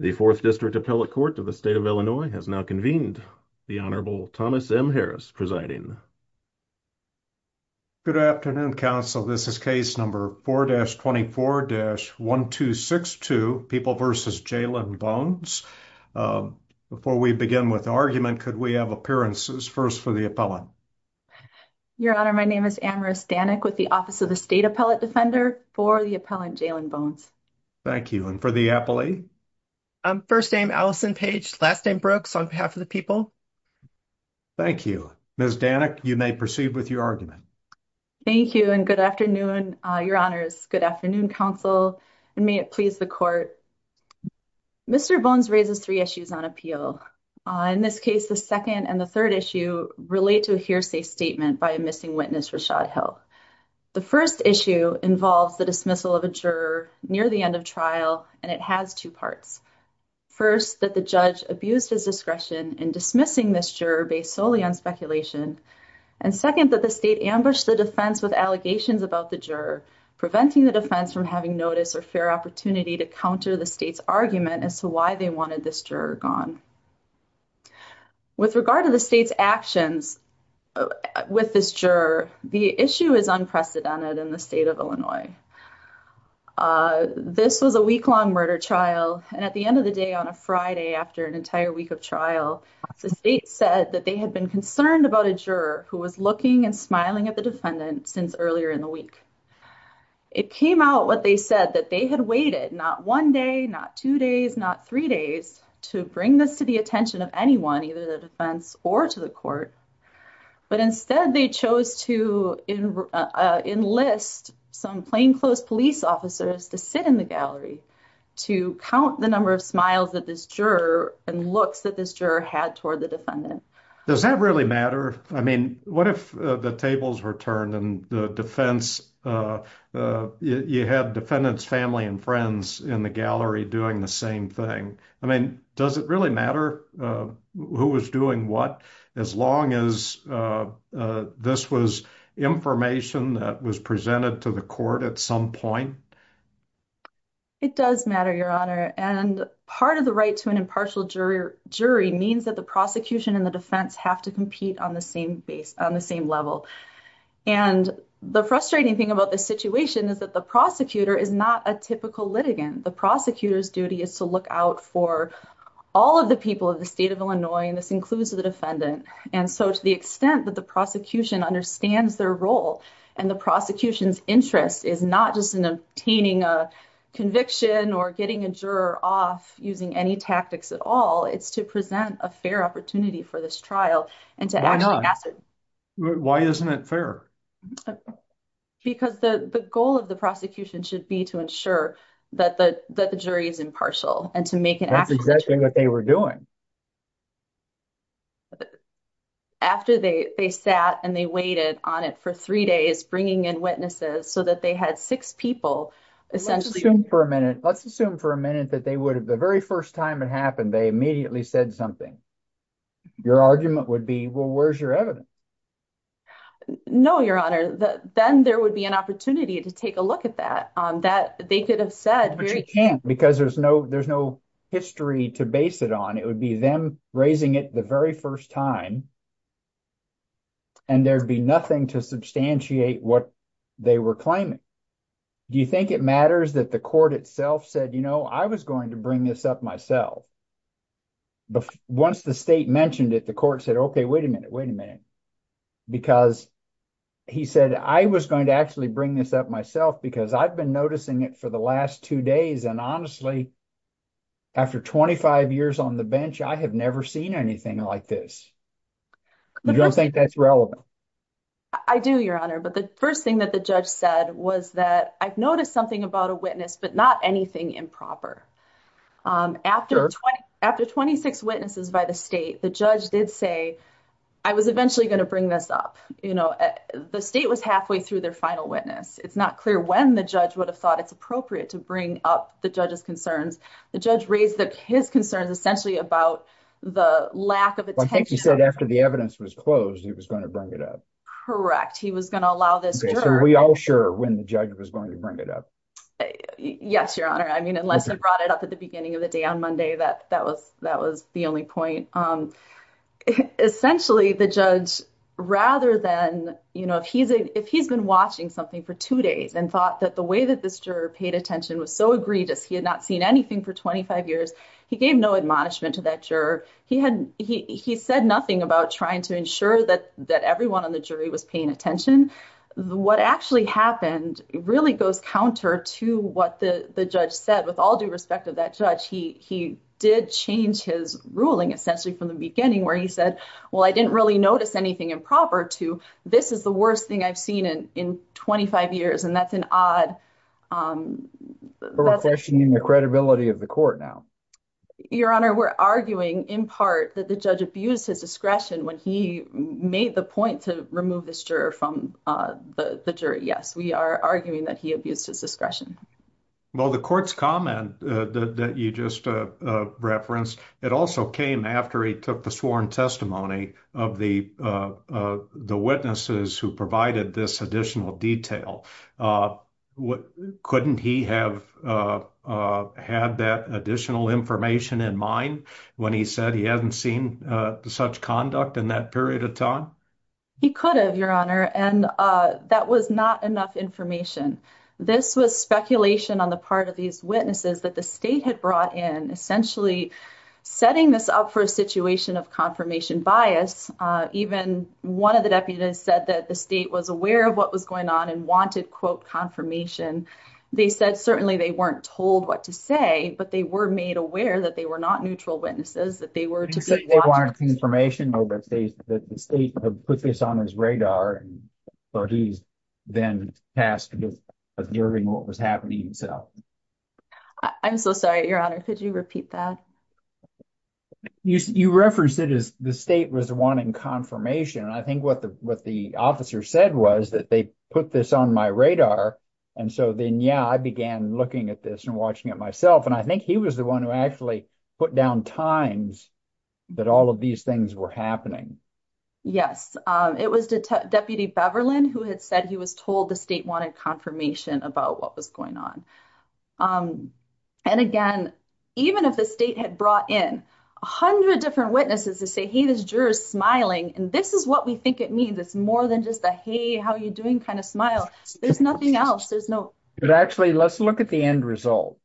The 4th District Appellate Court of the State of Illinois has now convened. The Honorable Thomas M. Harris presiding. Good afternoon, Council. This is case number 4-24-1262, People v. Jalen Bones. Before we begin with the argument, could we have appearances first for the appellant? Your Honor, my name is Anne Rose Danek with the Office of the State Appellate Defender for the appellant Jalen Bones. Thank you. And for the appellee? First name Allison Page, last name Brooks on behalf of the people. Thank you. Ms. Danek, you may proceed with your argument. Thank you and good afternoon, Your Honors. Good afternoon, Council, and may it please the Court. Mr. Bones raises three issues on appeal. In this case, the second and the third issue relate to a hearsay statement by a missing witness Rashad Hill. The first issue involves the dismissal of a juror near the end of trial, and it has two parts. First, that the judge abused his discretion in dismissing this juror based solely on speculation. And second, that the state ambushed the defense with allegations about the juror, preventing the defense from having notice or fair opportunity to counter the state's argument as to why they wanted this juror gone. With regard to the state's actions with this juror, the issue is unprecedented in the state of Illinois. This was a week-long murder trial, and at the end of the day on a Friday after an entire week of trial, the state said that they had been concerned about a juror who was looking and smiling at the defendant since earlier in the week. It came out what they said that they had waited not one day, not two days, not three days to bring this to the attention of anyone, either the defense or to the court, but instead they chose to enlist some plainclothes police officers to sit in the gallery to count the number of smiles that this juror and looks that this juror had toward the defendant. Does that really matter? I mean, what if the tables were turned and the defense, you had defendants' family and friends in the gallery doing the same thing? I mean, does it really matter who was doing what as long as this was information that was presented to the court at some point? It does matter, Your Honor, and part of the right to an impartial jury means that the prosecution and the defense have to compete on the same level. And the frustrating thing about this situation is that the prosecutor is not a typical litigant. The prosecutor's duty is to look out for all of the people of the state of Illinois, and this includes the defendant. And so to the extent that the prosecution understands their role and the prosecution's interest is not just in obtaining a conviction or getting a juror off using any tactics at all, it's to present a fair opportunity for this trial and to actually pass it. Why isn't it fair? Because the goal of the prosecution should be to ensure that the jury is impartial and to make an effort. That's exactly what they were doing. After they sat and they waited on it for three days, bringing in witnesses so that they had six people, essentially. Let's assume for a minute that they would have, the very first time it happened, they immediately said something. Your argument would be, well, where's your evidence? No, Your Honor. Then there would be an opportunity to take a look at that. They could have said- But you can't because there's no history to base it on. It would be them raising it the very first time and there'd be nothing to substantiate what they were claiming. Do you think it matters that the court itself said, you know, I was going to bring this up myself? Once the state mentioned it, the court said, okay, wait a minute, wait a minute. Because he said, I was going to actually bring this up myself because I've been noticing it for the last two days. And honestly, after 25 years on the bench, I have never seen anything like this. You don't think that's relevant? I do, Your Honor. But the first thing that the judge said was that I've noticed something about a witness, but not anything improper. After 26 witnesses by the state, the judge did say, I was eventually going to bring this up. You know, the state was halfway through their final witness. It's not clear when the judge would have thought it's appropriate to bring up the judge's concerns. The judge raised his concerns essentially about the lack of attention. I think he said after the evidence was closed, he was going to bring it up. Correct. He was going to allow this jury- when the judge was going to bring it up. Yes, Your Honor. I mean, unless I brought it up at the beginning of the day on Monday, that was the only point. Essentially, the judge, rather than, you know, if he's been watching something for two days and thought that the way that this juror paid attention was so egregious, he had not seen anything for 25 years, he gave no admonishment to that juror. He said nothing about trying to ensure that everyone on the jury was paying attention. What actually happened really goes counter to what the judge said. With all due respect to that judge, he did change his ruling essentially from the beginning where he said, well, I didn't really notice anything improper to this is the worst thing I've seen in 25 years. And that's an odd- We're questioning the credibility of the court now. Your Honor, we're arguing in part that the judge abused his discretion when he made the point to remove this juror from the jury. Yes, we are arguing that he abused his discretion. Well, the court's comment that you just referenced, it also came after he took the sworn testimony of the witnesses who provided this additional detail. Couldn't he have had that additional information in mind when he said he hadn't seen such conduct in that period of time? He could have, Your Honor, and that was not enough information. This was speculation on the part of these witnesses that the state had brought in, essentially setting this up for a situation of confirmation bias. Even one of the deputies said that the state was aware of what was going on and wanted, quote, confirmation. They said certainly they weren't told what to say, but they were made aware that they were not neutral witnesses, that they were- that the state had put this on his radar, and so he's then tasked with hearing what was happening himself. I'm so sorry, Your Honor. Could you repeat that? You referenced it as the state was wanting confirmation, and I think what the officer said was that they put this on my radar, and so then, yeah, I began looking at this and watching it myself, and I think he was the one who actually put down times that all of these things were happening. Yes, it was Deputy Beverland who had said he was told the state wanted confirmation about what was going on, and again, even if the state had brought in a hundred different witnesses to say, hey, this juror's smiling, and this is what we think it means. It's more than just a, hey, how are you doing, kind of smile. There's nothing else. There's no- But actually, let's look at the end result.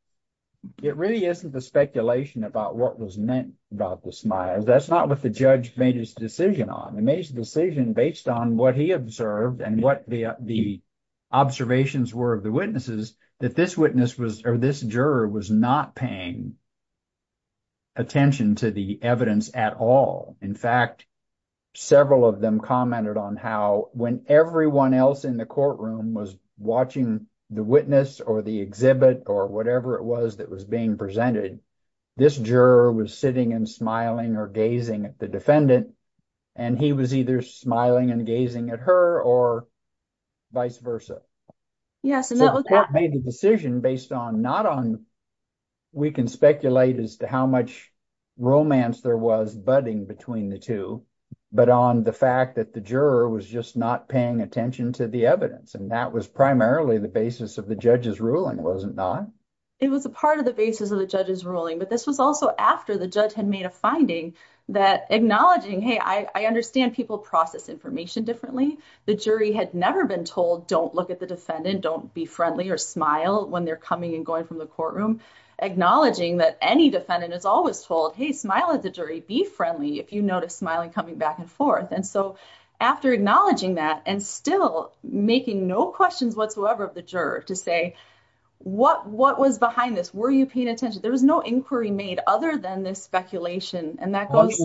It really isn't the speculation about what was meant about the smile. That's not what the judge made his decision on. He made his decision based on what he observed and what the observations were of the witnesses that this witness was- or this juror was not paying attention to the evidence at all. In fact, several of them commented on how when everyone else in the courtroom was watching the witness or the exhibit or whatever it was that was being presented, this juror was sitting and smiling or gazing at the defendant, and he was either smiling and gazing at her or vice versa. Yes, and that was- So the court made the decision based on not on- we can speculate as to how much romance there was budding between the two, but on the fact that juror was just not paying attention to the evidence, and that was primarily the basis of the judge's ruling, was it not? It was a part of the basis of the judge's ruling, but this was also after the judge had made a finding that acknowledging, hey, I understand people process information differently. The jury had never been told, don't look at the defendant, don't be friendly or smile when they're coming and going from the courtroom. Acknowledging that any defendant is always told, hey, smile at the jury, be friendly if you notice smiling coming back and forth, and so after acknowledging that and still making no questions whatsoever of the juror to say, what was behind this? Were you paying attention? There was no inquiry made other than this speculation, and that goes-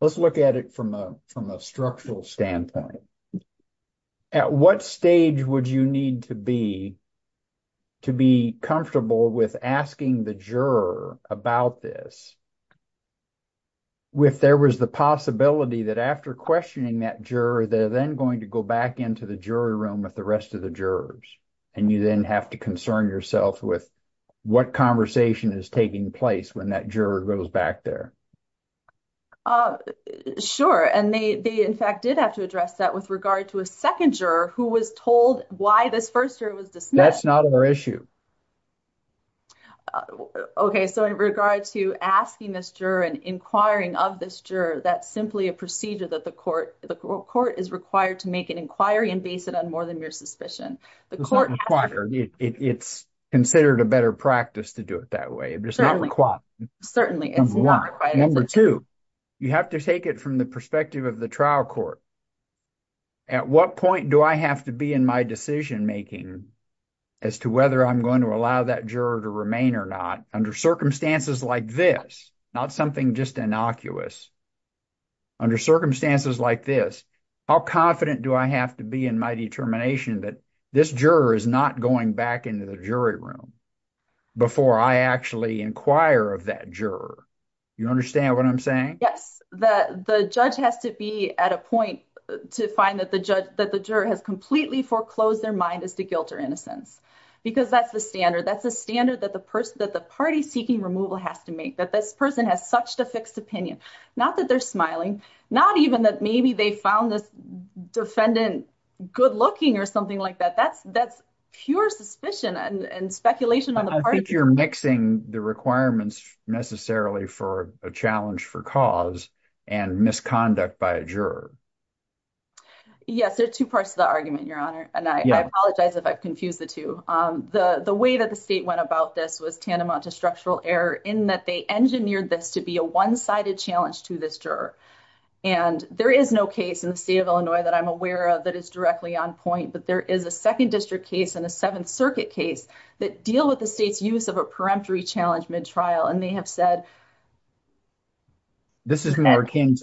Let's look at it from a structural standpoint. At what stage would you need to be comfortable with asking the juror about this if there was the possibility that after questioning that juror, they're then going to go back into the jury room with the rest of the jurors, and you then have to concern yourself with what conversation is taking place when that juror goes back there? Sure, and they in fact did have to address that with regard to a second juror who was told why this first juror was dismissed. That's not our issue. Okay, so in regard to asking this juror and inquiring of this juror, that's simply a procedure that the court is required to make an inquiry and base it on more than mere suspicion. It's not required. It's considered a better practice to do it that way. It's not required. Certainly, it's not required. Number two, you have to take it from the perspective of the trial court. At what point do I have to be in my decision making as to whether I'm going to allow that juror to remain or not under circumstances like this, not something just innocuous? Under circumstances like this, how confident do I have to be in my determination that this juror is not going back into the jury room before I actually inquire of that juror? You understand what I'm saying? Yes, the judge has to be at a point to find that the juror has completely foreclosed their mind as to guilt or innocence because that's the standard. That's the standard that the party seeking removal has to make, that this person has such a fixed opinion. Not that they're smiling, not even that maybe they found this defendant good-looking or something like that. That's pure suspicion and speculation I think you're mixing the requirements necessarily for a challenge for cause and misconduct by a juror. Yes, there are two parts to the argument, Your Honor, and I apologize if I've confused the two. The way that the state went about this was tantamount to structural error in that they engineered this to be a one-sided challenge to this juror. There is no case in the state of Illinois that I'm aware of that is directly on point, but there is a Second District case and a Seventh Circuit case that deal with the state's use of a peremptory challenge mid-trial and they have said- This is more akin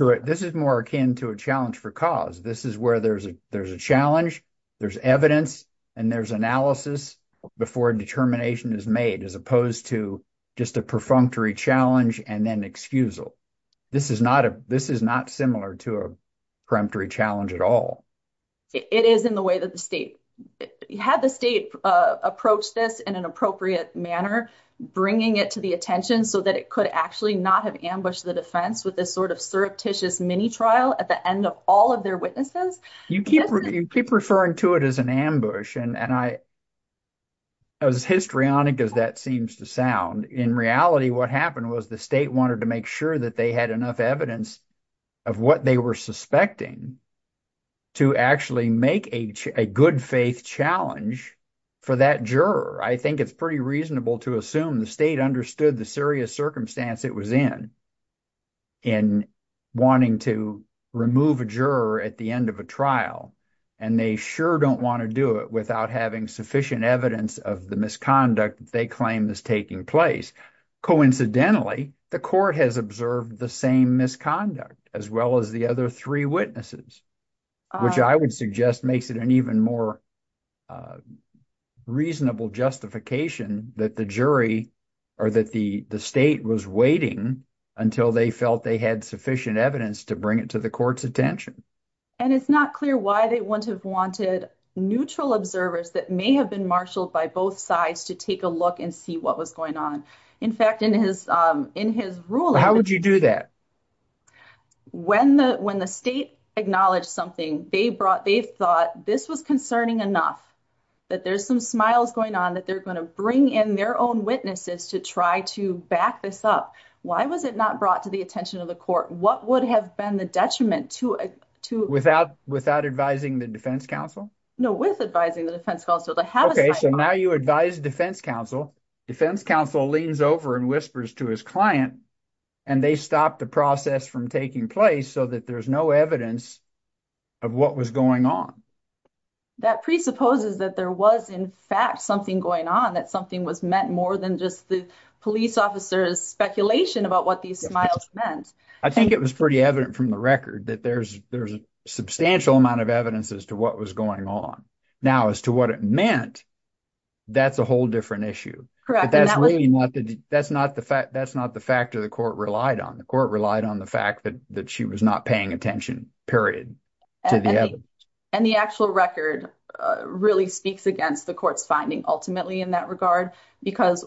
to a challenge for cause. This is where there's a challenge, there's evidence, and there's analysis before determination is made as opposed to just a perfunctory challenge and then excusal. This is not similar to a challenge. Had the state approached this in an appropriate manner, bringing it to the attention so that it could actually not have ambushed the defense with this sort of surreptitious mini-trial at the end of all of their witnesses? You keep referring to it as an ambush and as histrionic as that seems to sound, in reality what happened was the state wanted to make sure that had enough evidence of what they were suspecting to actually make a good faith challenge for that juror. I think it's pretty reasonable to assume the state understood the serious circumstance it was in, in wanting to remove a juror at the end of a trial and they sure don't want to do it without having sufficient evidence of the misconduct they claim is taking place. Coincidentally, the court has observed the same misconduct as well as the other three witnesses, which I would suggest makes it an even more reasonable justification that the jury or that the state was waiting until they felt they had sufficient evidence to bring it to the court's attention. And it's not clear why they wouldn't have wanted neutral observers that may have been by both sides to take a look and see what was going on. In fact, in his ruling... How would you do that? When the state acknowledged something, they thought this was concerning enough, that there's some smiles going on, that they're going to bring in their own witnesses to try to back this up. Why was it not brought to the attention of the court? What would have been the detriment to... Without advising the defense counsel? No, with advising the defense counsel. Okay, so now you advise defense counsel, defense counsel leans over and whispers to his client and they stop the process from taking place so that there's no evidence of what was going on. That presupposes that there was in fact something going on, that something was meant more than just the police officer's speculation about what these smiles meant. I think it was pretty evident from the record that there's a substantial amount of evidence as to what was going on. Now, as to what it meant, that's a whole different issue. That's not the fact that the court relied on. The court relied on the fact that she was not paying attention, period, to the evidence. And the actual record really speaks against the court's finding ultimately in that regard, because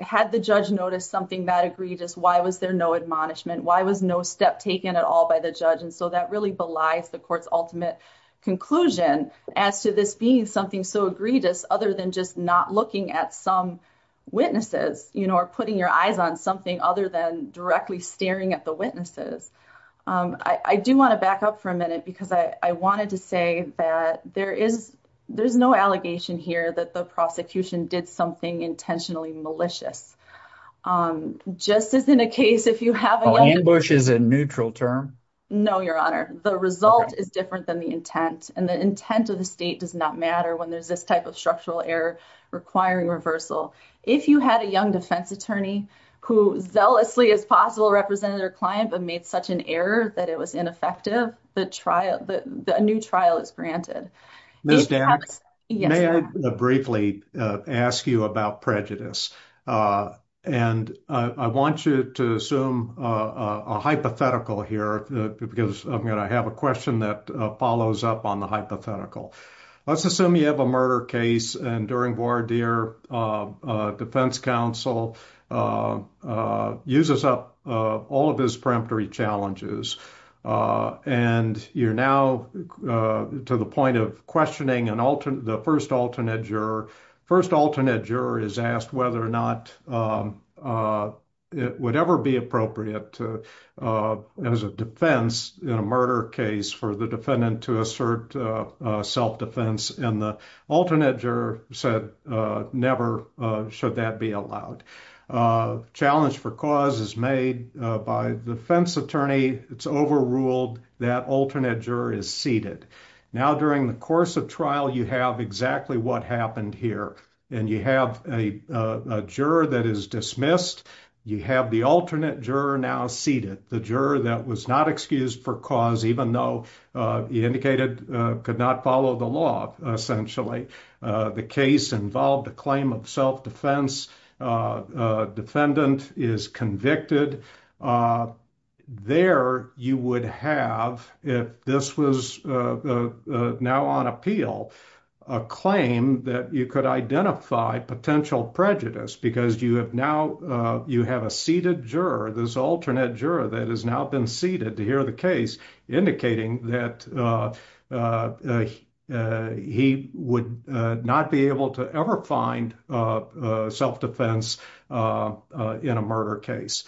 had the judge noticed something that egregious, why was there no admonishment? Why was no step taken at all by the judge? And so that really belies the court's ultimate conclusion as to this being something so egregious other than just not looking at some witnesses or putting your eyes on something other than directly staring at the witnesses. I do want to back up for a minute because I wanted to say that there's no allegation here that the prosecution did something intentionally malicious. Just as in a case if you have... Ambush is a neutral term? No, Your Honor. The result is different than the intent. And the intent of the state does not matter when there's this type of structural error requiring reversal. If you had a young defense attorney who zealously as possible represented her client but made such an error that it was ineffective, a new trial is granted. Ms. Dan, may I briefly ask you about prejudice? And I want you to assume a hypothetical here because I'm going to have a question that follows up on the hypothetical. Let's assume you have a murder case and during voir dire defense counsel uses up all of his peremptory challenges. And you're now to the point of questioning an alternate, the first alternate juror. First alternate juror is asked whether or not it would ever be appropriate as a defense in a murder case for the defendant to assert self-defense. And the alternate juror said, never should that be allowed. Challenge for cause is made by the defense attorney. It's overruled. That alternate juror is seated. Now during the course of trial, you have exactly what happened here. And you have a juror that is dismissed. You have the alternate juror now seated. The juror that was not excused for cause, even though he indicated could not follow the law, essentially. The case involved a claim of self-defense. Defendant is convicted. There you would have, if this was now on appeal, a claim that you could identify potential prejudice because you have now, you have a seated juror, this alternate juror that has now been seated to hear the case indicating that he would not be able to ever find self-defense in a murder case.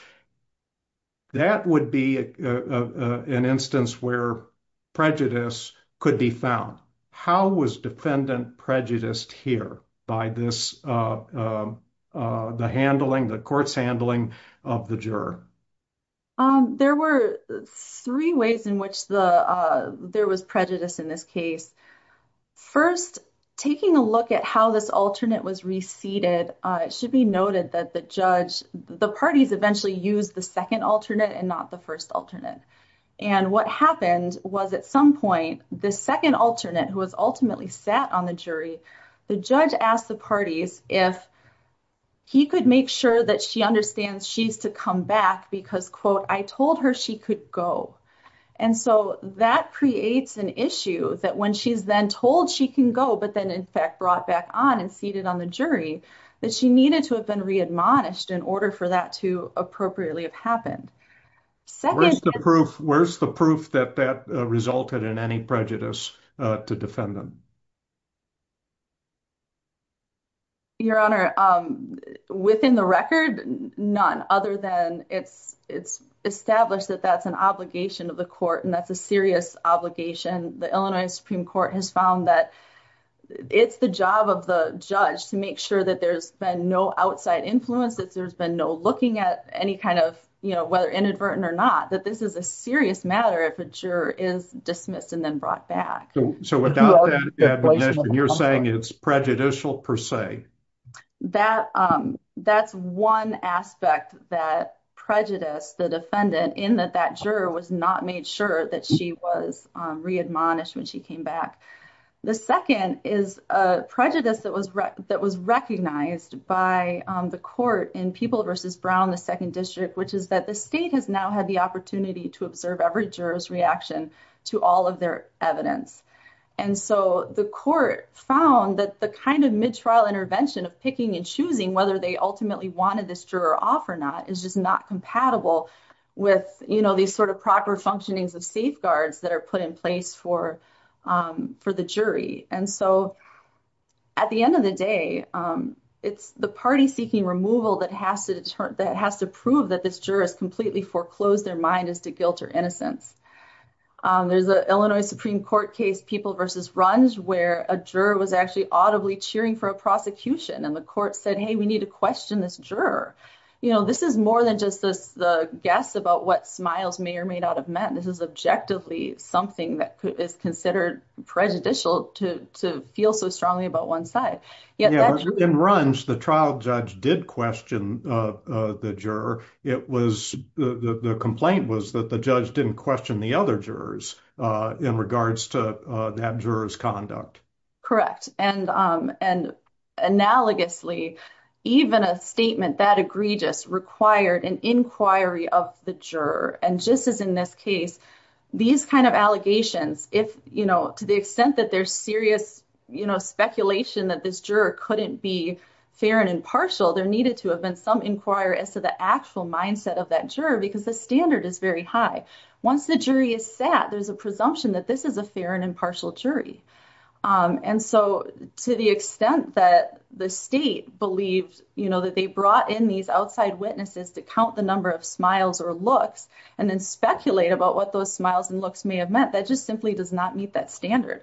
That would be an instance where prejudice could be found. How was defendant prejudiced here by this the handling, the court's handling of the juror? There were three ways in which there was prejudice in this case. First, taking a look at how this alternate was re-seated, it should be noted that the judge, the parties eventually used the second alternate and not the first alternate. And what happened was at some point, the second alternate who was ultimately sat on the jury, the judge asked the parties if he could make sure that she understands she's to come back because, quote, I told her she could go. And so that creates an issue that when she's then told she can go, but then in fact brought back on and seated on the jury, that she needed to have been re-admonished in order for that to appropriately have happened. Where's the proof that that resulted in any prejudice to defendant? Your Honor, within the record, none other than it's established that that's an obligation of the court and that's a serious obligation. The Illinois Supreme Court has found that it's the job of the judge to make sure that there's been no outside influence, that there's been no looking at any kind of, you know, whether inadvertent or not, that this is a serious matter if a juror is dismissed and then brought back. So without that, you're saying it's prejudicial per se? That's one aspect that prejudiced the defendant in that that juror was not made sure that she was re-admonished when she came back. The second is a prejudice that was recognized by the court in People v. Brown, the second district, which is that the state has now had the opportunity to observe every juror's reaction to all of their evidence. And so the court found that the kind of mid-trial intervention of picking and choosing whether they ultimately wanted this juror off or not is just not compatible with, you know, these sort of proper functionings of safeguards that are put in place for the jury. And so at the end of the day, it's the party seeking removal that has to prove that this juror has completely foreclosed their mind as to guilt or innocence. There's an Illinois Supreme Court case, People v. Runge, where a juror was actually audibly cheering for a prosecution and the court said, hey, we need to question this juror. You know, this is more than just the guess about what smiles may or may not have meant. This is objectively something that is considered prejudicial to feel so strongly about one side. In Runge, the trial judge did question the juror. The complaint was that the judge didn't question the other jurors in regards to that juror's conduct. Correct. And analogously, even a statement that egregious required an inquiry of the juror. And just as in this case, these kind of allegations, if, you know, to the extent that there's serious, you know, speculation that this juror couldn't be fair and impartial, there needed to have been some inquiry as to the actual mindset of that juror, because the standard is very high. Once the jury is set, there's a presumption that this is a fair and impartial jury. And so to the extent that the state believes, you know, that they brought in these outside witnesses to count the number of smiles or looks, and then speculate about what those smiles and looks may have meant, that just simply does not meet that standard.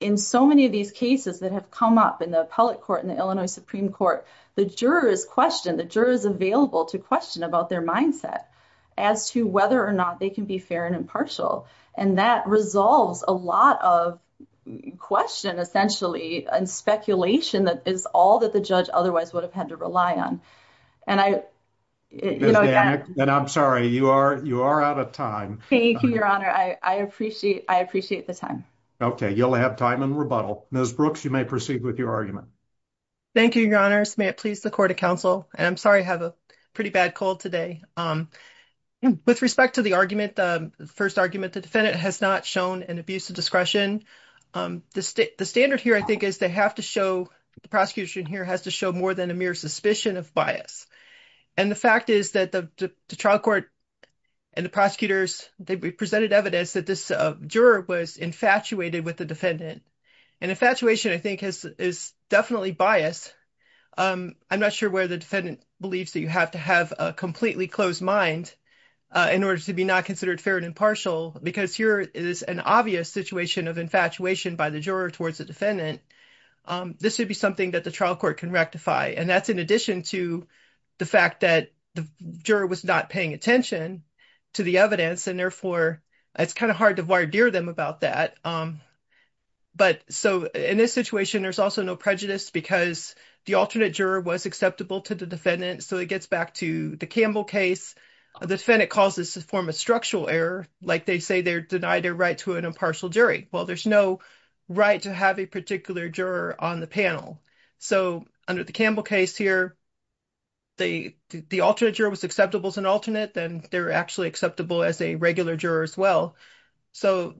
In so many of these cases that have come up in the appellate court in the Illinois Supreme Court, the jurors question, the jurors available to question about their mindset as to whether or not they can be fair and impartial. And that resolves a lot of question, essentially, and speculation that is all that the judge otherwise would have had to rely on. And I, you know, And I'm sorry, you are, you are out of time. Thank you, Your Honor. I appreciate, I appreciate the time. Okay, you'll have time and rebuttal. Ms. Brooks, you may proceed with your argument. Thank you, Your Honor. May it please the Court of Counsel. I'm sorry, I have a pretty bad cold today. With respect to the argument, the first argument, the defendant has not shown an abuse of discretion. The standard here, I think, is they have to show, the prosecution here has to show more than a mere suspicion of bias. And the fact is that the trial court and the prosecutors, they presented evidence that this juror was infatuated with the defendant. And infatuation, I think, is definitely bias. I'm not sure where the defendant believes that you have to have a completely closed mind in order to be not considered fair and impartial, because here is an obvious situation of infatuation by the juror towards the defendant. This should be something that the trial court can rectify. And that's in addition to the fact that the juror was not paying attention to the evidence, and therefore, it's kind of hard to voir dire them about that. But so, in this situation, there's also no prejudice because the alternate juror was acceptable to the defendant. So, it gets back to the Campbell case. The defendant calls this a form of structural error, like they say they're denied their right to an impartial jury. Well, there's no right to have a particular juror on the panel. So, under the Campbell case here, the alternate juror was acceptable as an alternate, then they're actually acceptable as a regular juror as well. So,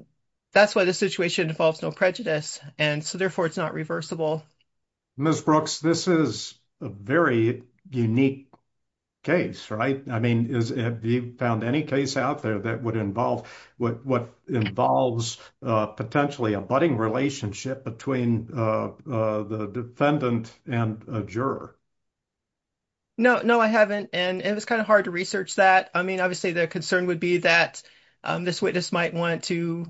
that's why the situation involves no prejudice, and so, therefore, it's not reversible. Ms. Brooks, this is a very unique case, right? I mean, have you found any case out there that would involve, what involves potentially a budding relationship between the defendant and a juror? No, no, I haven't. And it was kind of hard to research that. I mean, obviously, the concern would be that this witness might want to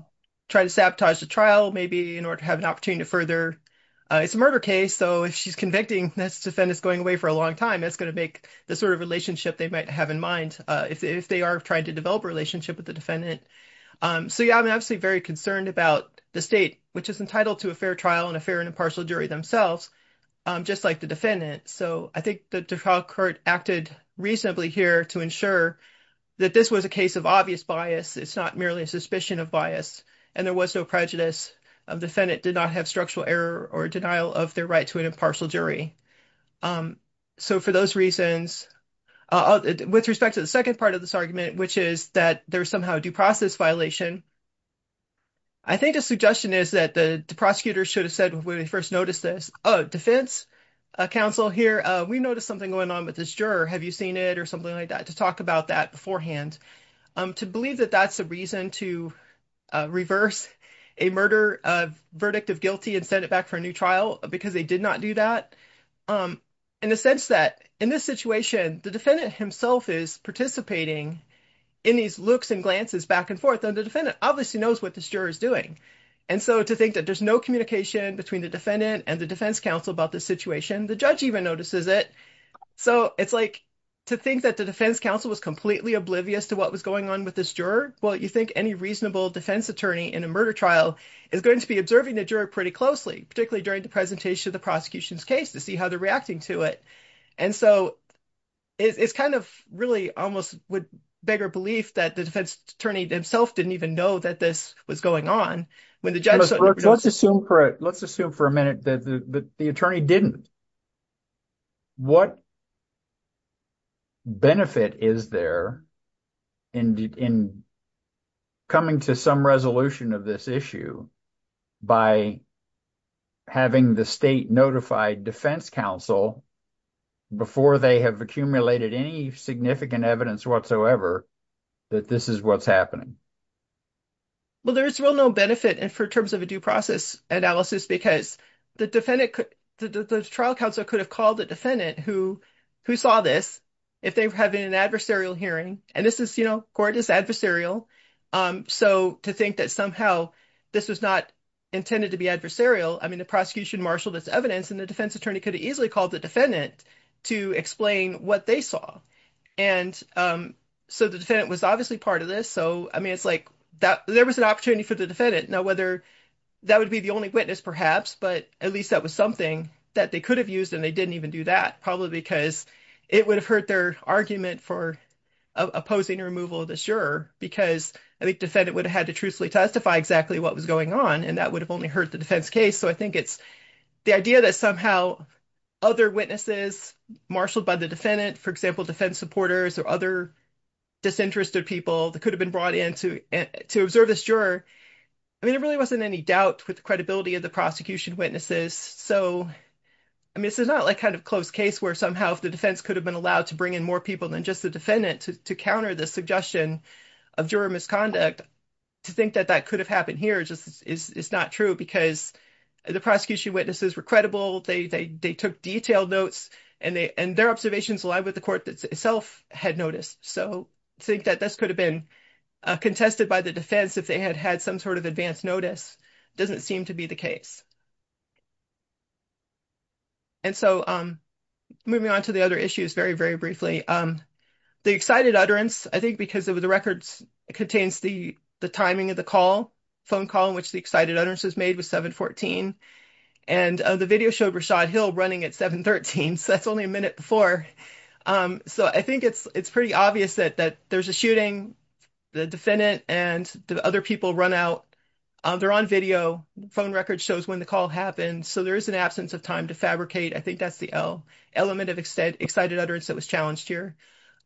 try to sabotage the trial, maybe in order to have an opportunity to further, it's a murder case. So, if she's convicting, this defendant is going away for a long time. That's going to make the sort of relationship they might have in mind if they are trying to develop a relationship with the defendant. So, yeah, I'm obviously very concerned about the state, which is entitled to a fair trial and a fair and impartial jury themselves, just like the defendant. So, I think the trial court acted reasonably here to ensure that this was a case of obvious bias. It's not merely a suspicion of bias, and there was no prejudice. Defendant did not have structural error or denial of their right to an impartial jury. So, for those reasons, with respect to the second part of this argument, which is that there's somehow a due process violation, I think the suggestion is that the prosecutor should have said when they first noticed this, oh, defense counsel here, we noticed something going on with this juror. Have you seen it or something like that, to talk about that beforehand, to believe that that's a reason to reverse a murder verdict of guilty and send it back for a new trial because they did not do that, in the sense that in this situation, the defendant himself is participating in these looks and glances back and forth, and the defendant obviously knows what this juror is doing. And so, to think that there's no communication between the defendant and the defense counsel about this situation, the judge even notices it. So, it's like, to think that the defense counsel was completely oblivious to what was going on with this juror, well, you think any reasonable defense attorney in a murder trial is going to be observing the juror pretty closely, particularly during the presentation of the prosecution's case, to see how they're reacting to it. And so, it's kind of really almost with bigger belief that the defense attorney himself didn't even know that this was going on. When the judge- Let's assume for a minute that the attorney didn't. What benefit is there in coming to some resolution of this issue by having the state notify defense counsel before they have accumulated any significant evidence whatsoever that this is what's happening? Well, there is real no benefit in terms of a due process analysis, because the defendant- the trial counsel could have called the defendant who saw this if they were having an adversarial hearing. And this is, you know, court is adversarial. So, to think that somehow this was not intended to be adversarial, I mean, the prosecution marshaled its evidence, and the defense attorney could have easily called the defendant to explain what they saw. And so, the defendant was obviously part of this. So, I mean, it's like there was an opportunity for the defendant. Now, whether that would be the only witness, perhaps, but at least that was something that they could have used, and they didn't even do that, probably because it would have hurt their argument for opposing removal of this juror, because I think the defendant would have had to truthfully testify exactly what was going on, and that would have only hurt the defense case. So, I think it's the idea that somehow other witnesses marshaled by the defendant, for example, defense supporters or other disinterested people that could have been brought in to observe this juror. I mean, there really wasn't any doubt with the credibility of the prosecution witnesses. So, I mean, this is not like kind of close case where somehow the defense could have been allowed to bring in more people than just the defendant to counter the suggestion of juror misconduct. To think that that could have happened here just is not true, because the prosecution witnesses were credible, they took detailed notes, and their observations aligned with the court that itself had noticed. So, to think that this could have been contested by the defense if they had had some sort of advance notice doesn't seem to be the case. And so, moving on to the other issues very, very briefly. The excited utterance, I think because of the records, contains the timing of phone call in which the excited utterance was made was 7-14. And the video showed Rashad Hill running at 7-13. So, that's only a minute before. So, I think it's pretty obvious that there's a shooting, the defendant and the other people run out. They're on video. Phone records shows when the call happened. So, there is an absence of time to fabricate. I think that's the element of excited utterance that was challenged here.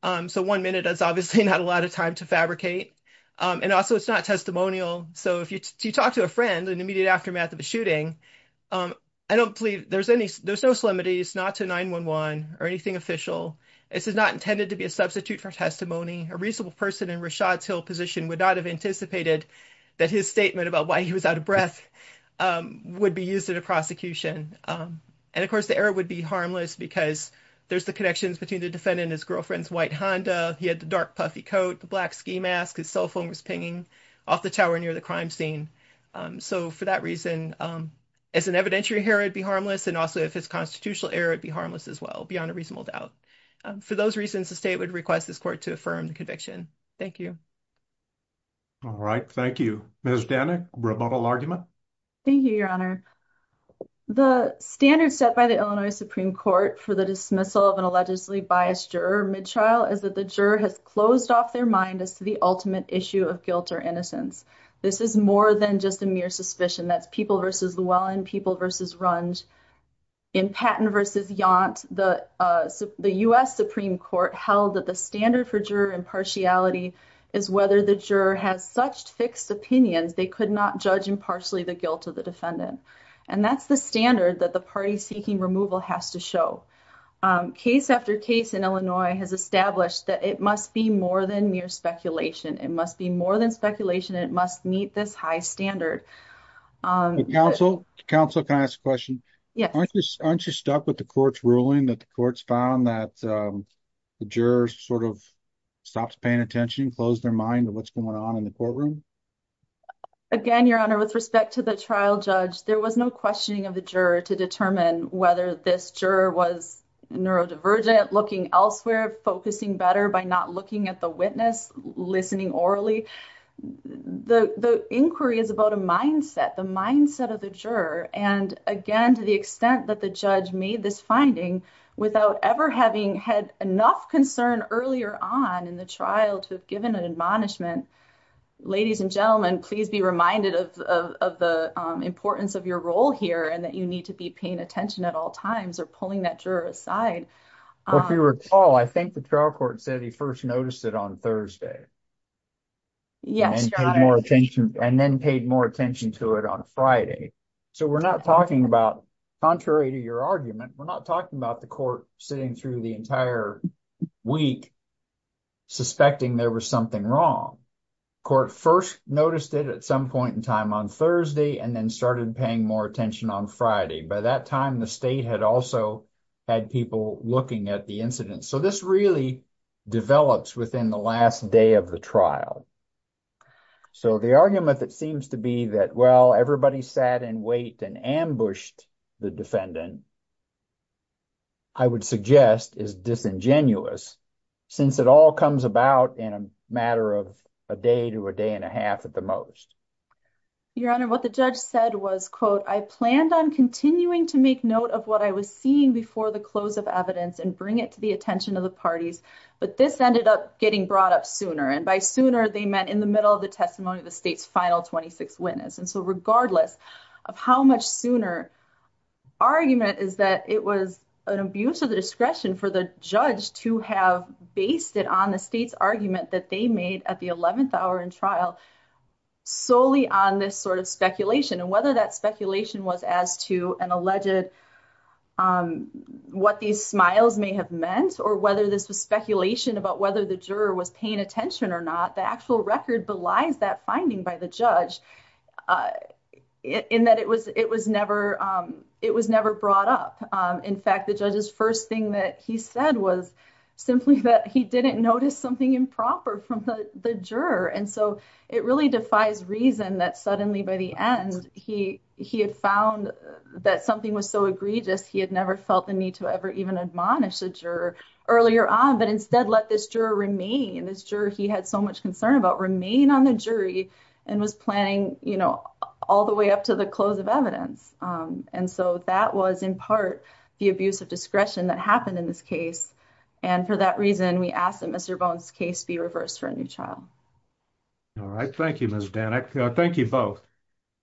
So, one minute is obviously not a lot of time to fabricate. And also, it's not testimonial. So, if you talk to a friend in the immediate aftermath of a shooting, I don't believe there's any, there's no solemnity. It's not to 911 or anything official. This is not intended to be a substitute for testimony. A reasonable person in Rashad's Hill position would not have anticipated that his statement about why he was out of breath would be used in a prosecution. And of course, the error would be harmless because there's the connections between the defendant and his girlfriend's white Honda. He had the dark puffy coat, the black ski mask, his cell phone was pinging off the tower near the crime scene. So, for that reason, as an evidentiary here, it'd be harmless. And also, if it's constitutional error, it'd be harmless as well, beyond a reasonable doubt. For those reasons, the state would request this court to affirm the conviction. Thank you. All right. Thank you. Ms. Danik, rebuttal argument? Thank you, Your Honor. The standard set by the Illinois Supreme Court for the dismissal of an defendant is that it's closed off their mind as to the ultimate issue of guilt or innocence. This is more than just a mere suspicion. That's people versus Llewellyn, people versus Runge. In Patton v. Yount, the U.S. Supreme Court held that the standard for juror impartiality is whether the juror has such fixed opinions they could not judge impartially the guilt of the defendant. And that's the standard that the party seeking removal has to show. Case after case in has established that it must be more than mere speculation. It must be more than speculation. It must meet this high standard. Counsel, counsel, can I ask a question? Yes. Aren't you stuck with the court's ruling that the courts found that the jurors sort of stopped paying attention, closed their mind to what's going on in the courtroom? Again, Your Honor, with respect to the trial judge, there was no questioning of the juror to determine whether this juror was neurodivergent, looking elsewhere, focusing better by not looking at the witness, listening orally. The inquiry is about a mindset, the mindset of the juror. And again, to the extent that the judge made this finding without ever having had enough concern earlier on in the trial to have given an admonishment, ladies and gentlemen, please be reminded of the importance of your role here and that you need to be paying attention at all times or pulling that juror aside. If you recall, I think the trial court said he first noticed it on Thursday. Yes, Your Honor. And then paid more attention to it on Friday. So we're not talking about, contrary to your argument, we're not talking about the court sitting through the entire week suspecting there was something wrong. Court first noticed it at some point in time on Thursday and then started paying more attention on Friday. By that time, the state had also had people looking at the incident. So this really develops within the last day of the trial. So the argument that seems to be that, well, everybody sat in wait and ambushed the defendant, I would suggest is disingenuous since it all comes about in a matter of a day to a day and a half at the most. Your Honor, what the judge said was, quote, I planned on continuing to make note of what I was seeing before the close of evidence and bring it to the attention of the parties. But this ended up getting brought up sooner. And by sooner, they meant in the middle of the testimony of the state's final 26 witness. And so regardless of how much sooner, argument is that it was an abuse of the discretion for the judge to have based it on the state's argument that they made at the 11th hour in trial, solely on this sort of speculation, and whether that speculation was as to an alleged what these smiles may have meant, or whether this was speculation about whether the juror was paying attention or not, the actual record belies that finding by the judge in that it was never brought up. In fact, the judge's first thing that he said was simply that he didn't notice something improper from the juror. And so it really defies reason that suddenly by the end, he had found that something was so egregious, he had never felt the need to ever even admonish the juror earlier on, but instead let this juror remain. This juror he had so much concern about remain on the jury and was planning, you know, all the way up to the close of evidence. And so that was in part, the abuse of discretion that happened in this case. And for that reason, we ask that Mr. Bone's case be reversed for a new child. All right. Thank you, Ms. Danek. Thank you both.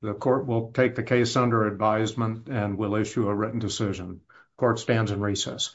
The court will take the case under advisement and will issue a written decision. Court stands in recess.